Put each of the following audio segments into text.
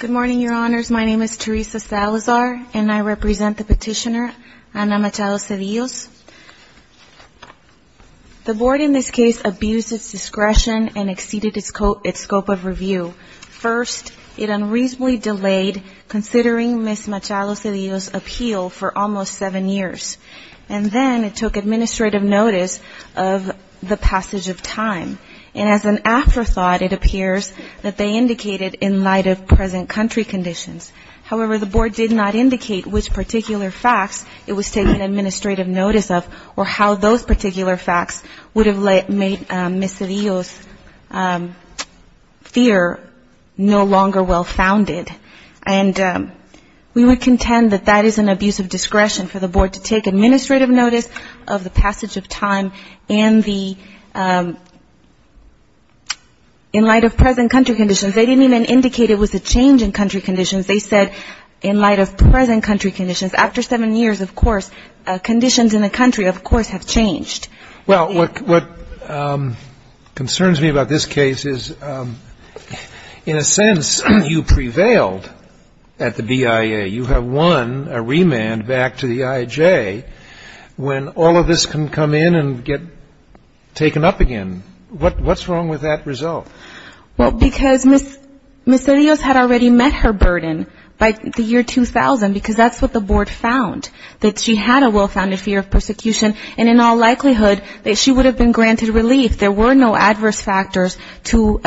Good morning, Your Honors. My name is Teresa Salazar, and I represent the petitioner, Ana Machado Cedillos. The Board in this case abused its discretion and exceeded its scope of review. First, it unreasonably delayed considering Ms. Machado Cedillos' appeal for almost seven years, and then it took administrative notice of the passage of time. And as an afterthought, it appears that they indicated in light of present country conditions. However, the Board did not indicate which particular facts it was taking administrative notice of or how those particular facts would have made Ms. Cedillos' fear no longer well-founded. And we would contend that that is an abuse of discretion for the Board to take administrative notice of the passage of time and the — in light of present country conditions. They didn't even indicate it was a change in country conditions. They said in light of present country conditions. After seven years, of course, conditions in the country, of course, have changed. Well, what concerns me about this case is, in a sense, you prevailed at the BIA. You have won a remand back to the IJ. When all of this can come in and get taken up again, what's wrong with that result? Well, because Ms. Cedillos had already met her burden by the year 2000, because that's what the Board found, that she had a well-founded fear of persecution, and in all likelihood that she would have been granted relief. There were no adverse factors to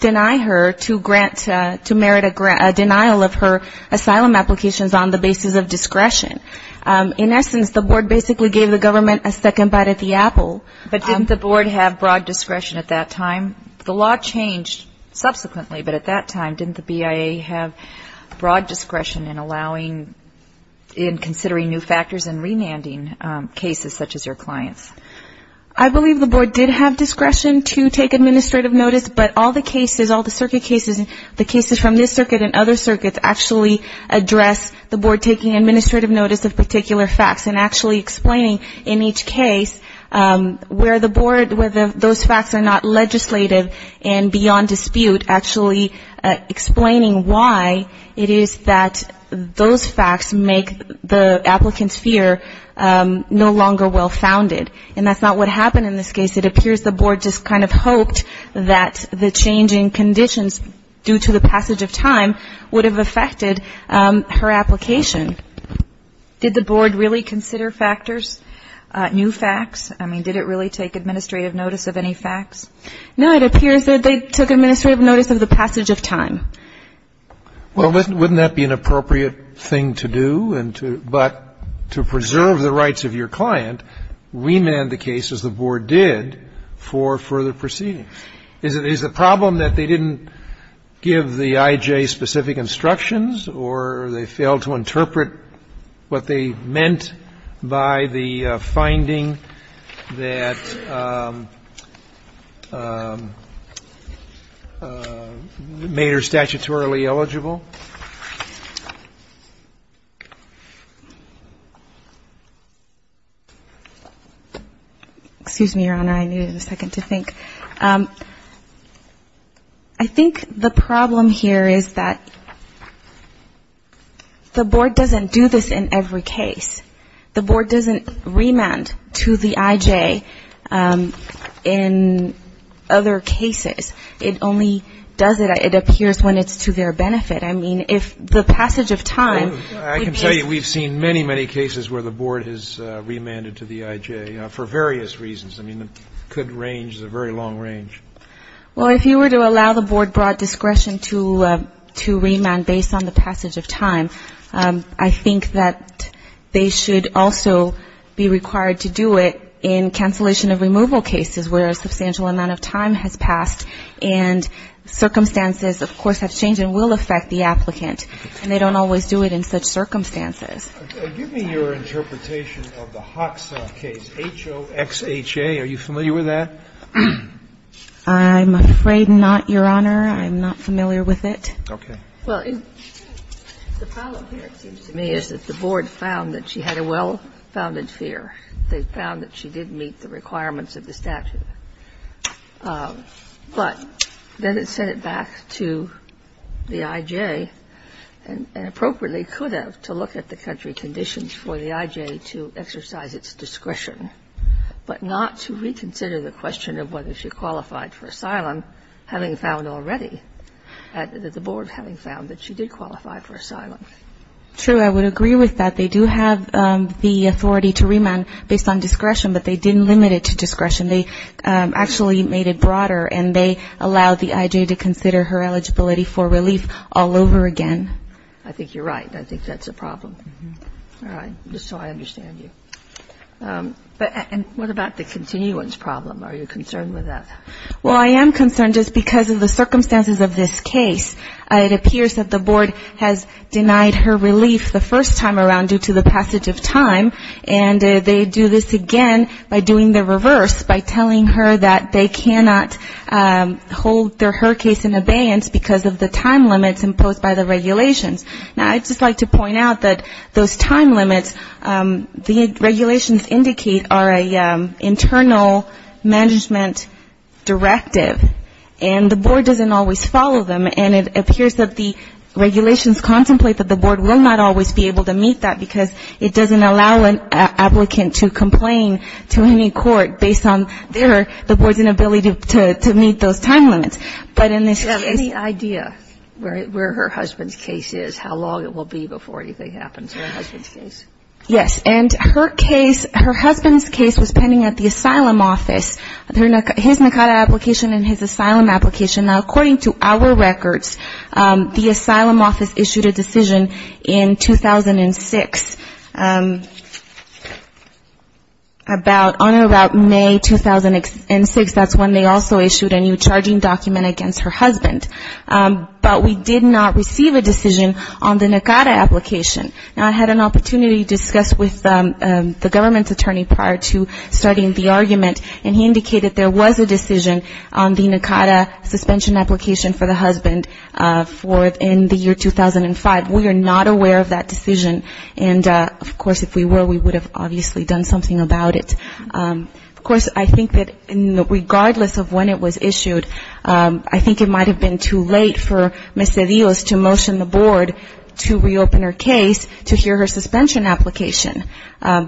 deny her to merit a denial of her asylum applications on the basis of discretion. In essence, the Board basically gave the government a second bite at the apple. But didn't the Board have broad discretion at that time? The law changed subsequently, but at that time, didn't the BIA have broad discretion in allowing — in considering new factors and remanding cases such as your client's? I believe the Board did have discretion to take administrative notice, but all the cases, the cases from this circuit and other circuits actually address the Board taking administrative notice of particular facts and actually explaining in each case where the Board, whether those facts are not legislative and beyond dispute, actually explaining why it is that those facts make the applicant's fear no longer well-founded. And that's not what happened in this case. It appears the Board just kind of hoped that the changing conditions due to the passage of time would have affected her application. Did the Board really consider factors, new facts? I mean, did it really take administrative notice of any facts? No, it appears that they took administrative notice of the passage of time. Well, wouldn't that be an appropriate thing to do? But to preserve the rights of your client, remand the case, as the Board did, for further proceedings. Is the problem that they didn't give the I.J. specific instructions or they failed to interpret what they meant by the finding that made her statutorily eligible? Excuse me, Your Honor. I needed a second to think. I think the problem here is that the Board doesn't do this in every case. The Board doesn't remand to the I.J. in other cases. It only does it, it appears, when it's to their benefit. I mean, the Board doesn't remand to the I.J. I mean, if the passage of time would be I can tell you we've seen many, many cases where the Board has remanded to the I.J. for various reasons. I mean, it could range, it's a very long range. Well, if you were to allow the Board broad discretion to remand based on the passage of time, I think that they should also be required to do it in cancellation of removal cases where a substantial amount of time has passed and circumstances, of course, have And they don't always do it in such circumstances. Okay. Give me your interpretation of the Hoxha case, H-O-X-H-A. Are you familiar with that? I'm afraid not, Your Honor. I'm not familiar with it. Okay. Well, the problem here, it seems to me, is that the Board found that she had a well-founded fear. They found that she didn't meet the requirements of the statute. But then it sent it back to the I-J and appropriately could have to look at the country conditions for the I-J to exercise its discretion, but not to reconsider the question of whether she qualified for asylum, having found already, the Board having found that she did qualify for asylum. True. I would agree with that. They do have the authority to remand based on discretion, but they didn't limit it to discretion. They actually made it broader, and they allowed the I-J to consider her eligibility for relief all over again. I think you're right. I think that's a problem. All right. Just so I understand you. And what about the continuance problem? Are you concerned with that? Well, I am concerned just because of the circumstances of this case. It appears that the Board has met the regulations by doing the reverse, by telling her that they cannot hold her case in abeyance because of the time limits imposed by the regulations. Now, I'd just like to point out that those time limits, the regulations indicate are an internal management directive, and the Board doesn't always follow them. And it appears that the regulations contemplate that the Board will not always be able to meet that, because it doesn't allow an applicant to complain to any court based on their, the Board's inability to meet those time limits. But in this case ‑‑ Do you have any idea where her husband's case is, how long it will be before anything happens in her husband's case? Yes. And her case, her husband's case was pending at the asylum office, his NACADA application and his asylum application. Now, according to our records, the asylum office issued a decision in 2006, and that decision was to allow the NACADA application. On and about May 2006, that's when they also issued a new charging document against her husband. But we did not receive a decision on the NACADA application. Now, I had an opportunity to discuss with the government's attorney prior to starting the argument, and he indicated there was a decision on the NACADA suspension application for the husband in the year 2005. We are not aware of that decision, and of course, if we were, we would have obviously done something about it. Of course, I think that regardless of when it was issued, I think it might have been too late for Ms. DeVos to motion the Board to reopen her case to hear her suspension application,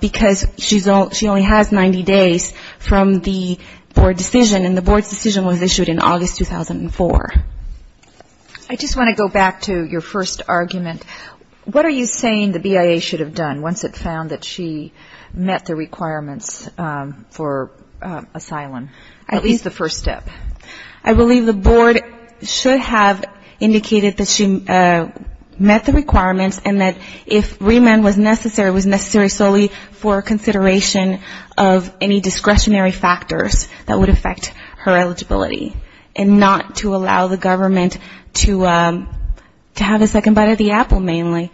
because she only has 90 days from the Board decision, and the Board's decision was issued in August 2004. I just want to go back to your first argument. What are you saying the BIA should have done once it found that she met the requirements for asylum, at least the first step? I believe the Board should have indicated that she met the requirements and that if remand was necessary, it was necessary solely for consideration of any discretionary factors that would affect her eligibility, and not to allow her to be released. I think the Board should have indicated that she met the requirements and that if remand was necessary, it was necessary solely for consideration of any discretionary factors that would affect her eligibility, and not to allow the government to have a second bite of the apple, mainly,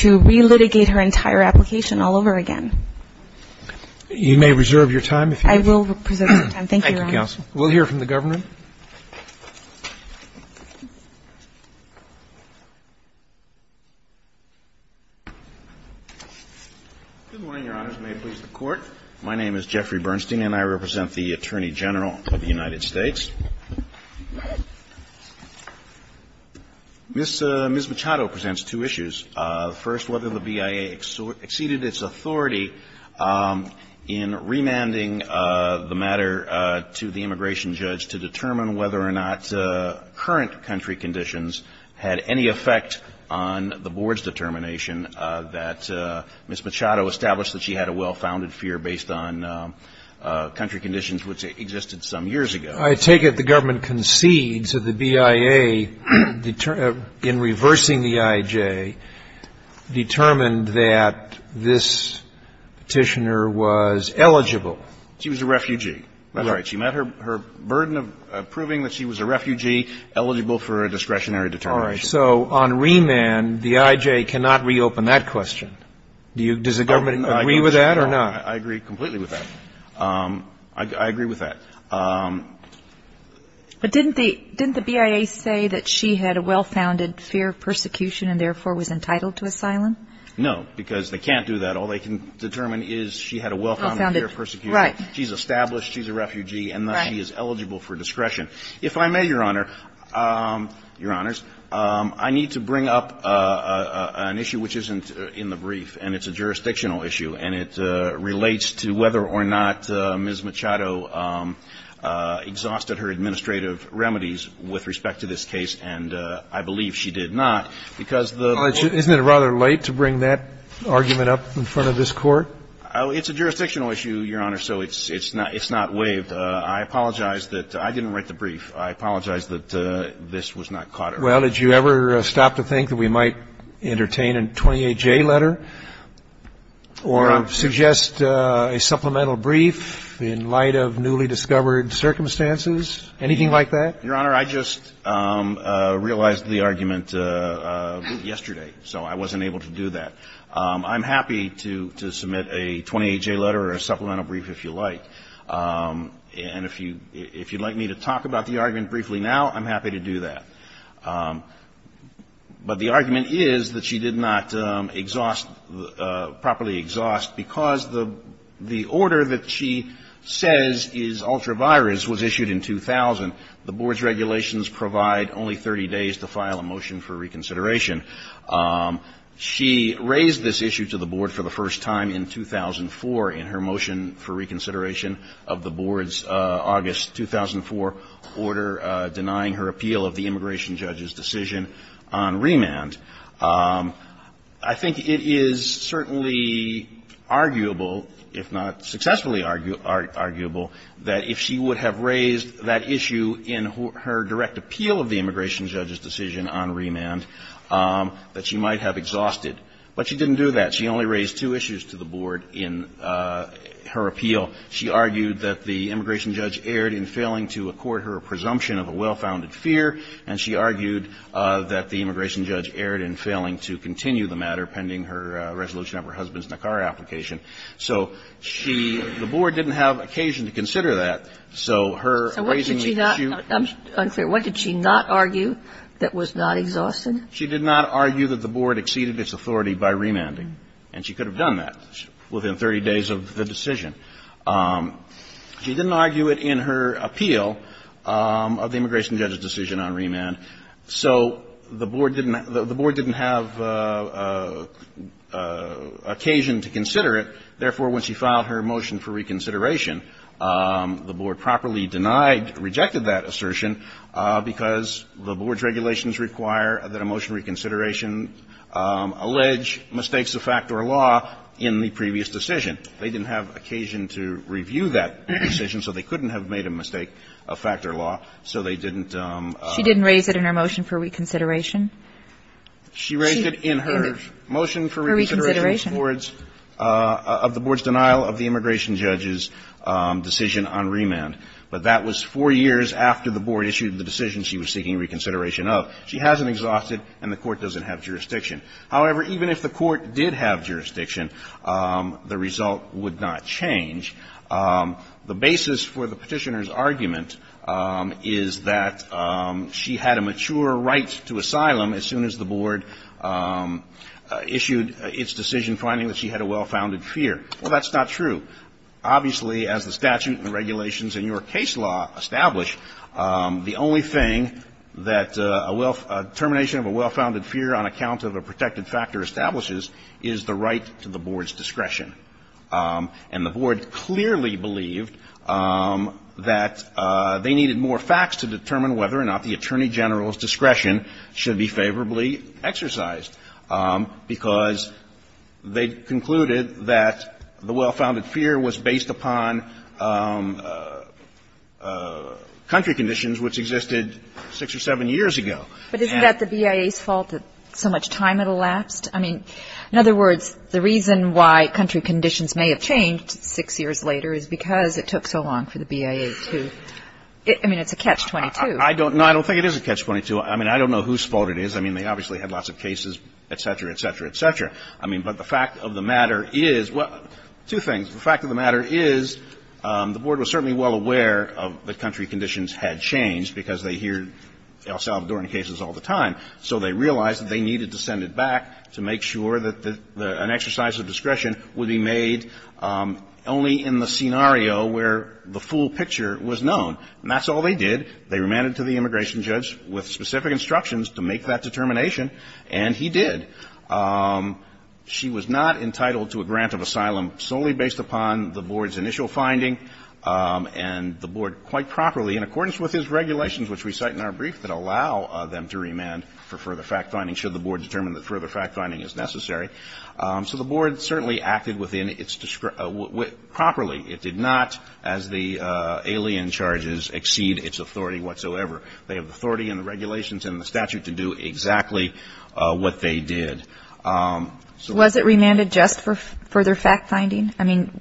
to relitigate her entire application all over again. You may reserve your time. I will reserve my time. Thank you, Your Honor. Thank you, Counsel. We'll hear from the Governor. Good morning, Your Honors. May it please the Court. My name is Jeffrey Bernstein, and I represent the Attorney General of the United States. Ms. Machado presents two issues. First, whether the BIA exceeded its authority in remanding the matter to the immigration judge to determine whether or not current country conditions had any effect on the Board's determination that Ms. Machado established that she had a well-founded fear based on country conditions which existed some years ago. I take it the government concedes that the BIA, in reversing the IJ, determined that this Petitioner was eligible. She was a refugee. That's right. She met her burden of proving that she was a refugee eligible for a discretionary determination. All right. So on remand, the IJ cannot reopen that question. Does the government agree with that or not? I agree completely with that. I agree with that. But didn't the BIA say that she had a well-founded fear of persecution and therefore was entitled to asylum? No, because they can't do that. All they can determine is she had a well-founded fear of persecution. Right. She's established, she's a refugee, and thus she is eligible for discretion. If I may, Your Honor, Your Honors, I need to bring up an issue which isn't in the brief, and it's a jurisdictional issue, and it relates to whether or not Ms. Machado exhausted her administrative remedies with respect to this case, and I believe she did not. Isn't it rather late to bring that argument up in front of this Court? It's a jurisdictional issue, Your Honor, so it's not waived. I apologize that I didn't write the brief. I apologize that this was not caught earlier. Well, did you ever stop to think that we might entertain a 28J letter or suggest a supplemental brief in light of newly discovered circumstances? Anything like that? Your Honor, I just realized the argument yesterday, so I wasn't able to do that. I'm happy to submit a 28J letter or a supplemental brief if you like. And if you'd like me to talk about the argument briefly now, I'm happy to do that. But the argument is that she did not exhaust, properly exhaust, because the order that she says is ultra-virus was issued in 2000. The Board's regulations provide only 30 days to file a motion for reconsideration. She raised this issue to the Board for the first time in 2004 in her motion for reconsideration of the Board's August 2004 order denying her appeal of the immigration judge's decision on remand. I think it is certainly arguable, if not successfully arguable, that if she would have raised that issue in her direct appeal of the immigration judge's decision on remand, that she might have exhausted. But she didn't do that. She only raised two issues to the Board in her appeal. She argued that the immigration judge erred in failing to accord her a presumption of a well-founded fear, and she argued that the immigration judge erred in failing to continue the matter pending her resolution of her husband's Nicara application. So she – the Board didn't have occasion to consider that, so her raising the issue of the immigration judge's decision on remand was not exhaustive. She did not argue that the Board exceeded its authority by remanding. And she could have done that within 30 days of the decision. She didn't argue it in her appeal of the immigration judge's decision on remand, so the Board didn't – the Board didn't have occasion to consider it. Therefore, when she filed her motion for reconsideration, the Board properly denied – rejected that assertion because the Board's regulations require that a motion reconsideration allege mistakes of fact or law in the previous decision. And they didn't have occasion to review that decision, so they couldn't have made a mistake of fact or law, so they didn't – She didn't raise it in her motion for reconsideration? She raised it in her motion for reconsideration of the Board's denial of the immigration judge's decision on remand. But that was four years after the Board issued the decision she was seeking reconsideration of. She hasn't exhausted, and the Court doesn't have jurisdiction. However, even if the Court did have jurisdiction, the result would not change. The basis for the Petitioner's argument is that she had a mature right to asylum as soon as the Board issued its decision finding that she had a well-founded fear. Well, that's not true. Obviously, as the statute and regulations in your case law establish, the only thing that a determination of a well-founded fear on account of a protected factor establishes is the right to the Board's discretion. And the Board clearly believed that they needed more facts to determine whether or not the attorney general's discretion should be favorably exercised, because they concluded that the well-founded fear was based upon country conditions which existed six or seven years ago. But isn't that the BIA's fault that so much time had elapsed? I mean, in other words, the reason why country conditions may have changed six years later is because it took so long for the BIA to – I mean, it's a catch-22. I don't – no, I don't think it is a catch-22. I mean, I don't know whose fault it is. I mean, they obviously had lots of cases, et cetera, et cetera, et cetera. I mean, but the fact of the matter is – well, two things. The fact of the matter is the Board was certainly well aware that country conditions had changed because they hear El Salvadoran cases all the time, so they realized that they needed to send it back to make sure that an exercise of discretion would be made only in the scenario where the full picture was known. And that's all they did. They remanded to the immigration judge with specific instructions to make that determination, and he did. She was not entitled to a grant of asylum solely based upon the Board's initial finding and the Board quite properly, in accordance with his regulations, which we cite in our brief, that allow them to remand for further fact-finding should the Board determine that further fact-finding is necessary. So the Board certainly acted within its – properly. It did not, as the alien charges, exceed its authority whatsoever. They have the authority and the regulations and the statute to do exactly what they did. So the Board did not. Kagan. Was it remanded just for further fact-finding? I mean,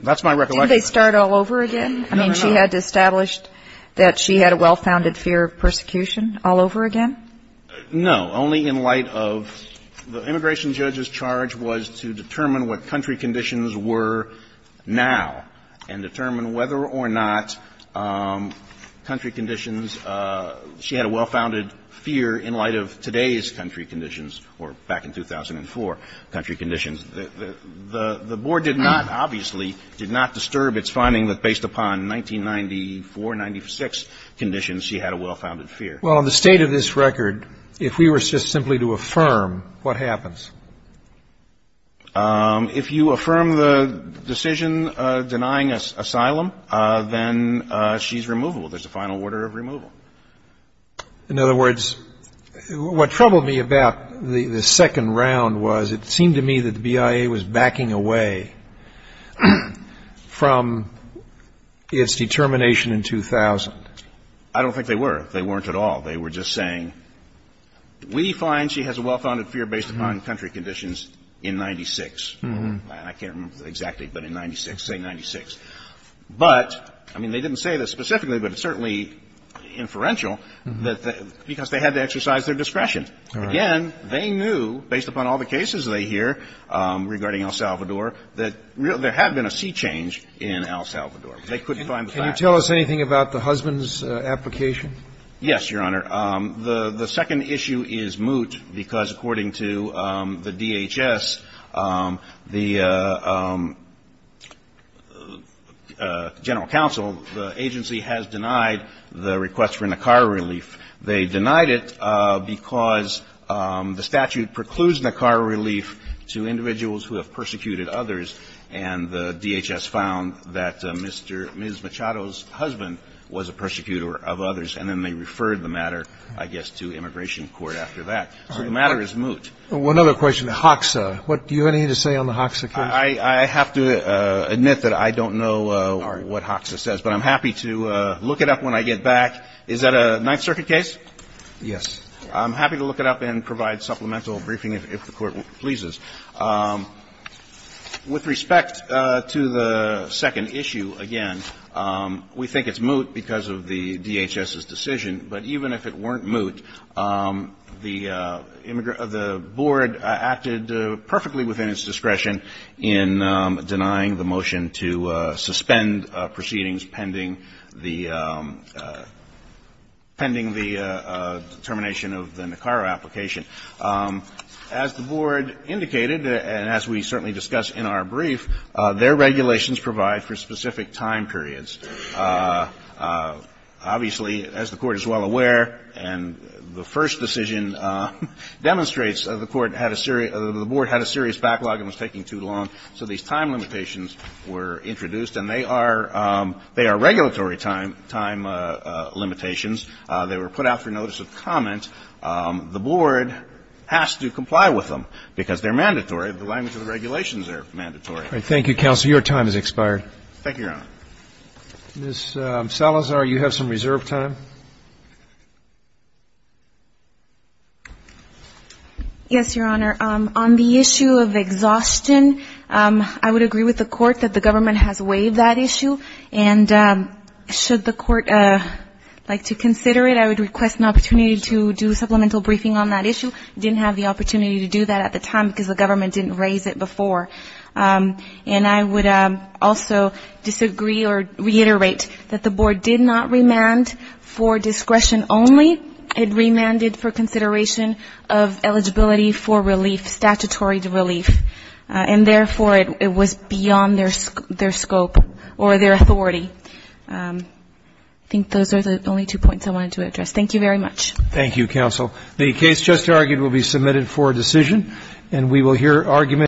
didn't they start all over again? That's my recollection. No, no, no. I mean, she had established that she had a well-founded fear of persecution all over again? No. Only in light of the immigration judge's charge was to determine what country conditions. She had a well-founded fear in light of today's country conditions, or back in 2004 country conditions. The Board did not, obviously, did not disturb its finding that based upon 1994-96 conditions, she had a well-founded fear. Well, in the state of this record, if we were just simply to affirm, what happens? If you affirm the decision denying asylum, then she's removable. There's a final order of removal. In other words, what troubled me about the second round was it seemed to me that the BIA was backing away from its determination in 2000. I don't think they were. They weren't at all. They were just saying, we find she has a well-founded fear based upon country conditions in 96. I can't remember exactly, but in 96, say 96. But, I mean, they didn't say this specifically, but it's certainly inferential, because they had to exercise their discretion. Again, they knew, based upon all the cases they hear regarding El Salvador, that there had been a sea change in El Salvador. They couldn't find the facts. Can you tell us anything about the husband's application? Yes, Your Honor. The second issue is moot, because according to the DHS, the general counsel, the agency has denied the request for Nicara relief. They denied it because the statute precludes Nicara relief to individuals who have persecuted others, and the DHS found that Ms. Machado's husband was a persecutor of others, and then they referred the matter, I guess, to immigration court after that. So the matter is moot. One other question. HOXA. Do you have anything to say on the HOXA case? I have to admit that I don't know what HOXA says, but I'm happy to look it up when I get back. Is that a Ninth Circuit case? Yes. I'm happy to look it up and provide supplemental briefing if the Court pleases. With respect to the second issue, again, we think it's moot because of the DHS's decision, but even if it weren't moot, the board acted perfectly within its discretion in denying the motion to suspend proceedings pending the determination of the Nicara application. As the board indicated, and as we certainly discussed in our brief, their regulations provide for specific time periods. Obviously, as the Court is well aware, and the first decision demonstrates, the board had a serious backlog and was taking too long, so these time limitations were introduced, and they are regulatory time limitations. They were put out for notice of comment. The board has to comply with them because they're mandatory. The language of the regulations are mandatory. Thank you, counsel. Your time has expired. Thank you, Your Honor. Ms. Salazar, you have some reserve time. Yes, Your Honor. On the issue of exhaustion, I would agree with the Court that the government has waived that issue, and should the Court like to consider it, I would request an opportunity to do a supplemental briefing on that issue. I didn't have the opportunity to do that at the time because the government didn't raise it before. And I would also disagree or reiterate that the board did not remand for discretion only. It remanded for consideration of eligibility for relief, statutory relief, and therefore it was beyond their scope or their authority. I think those are the only two points I wanted to address. Thank you very much. Thank you, counsel. The case just argued will be submitted for decision, and we will hear argument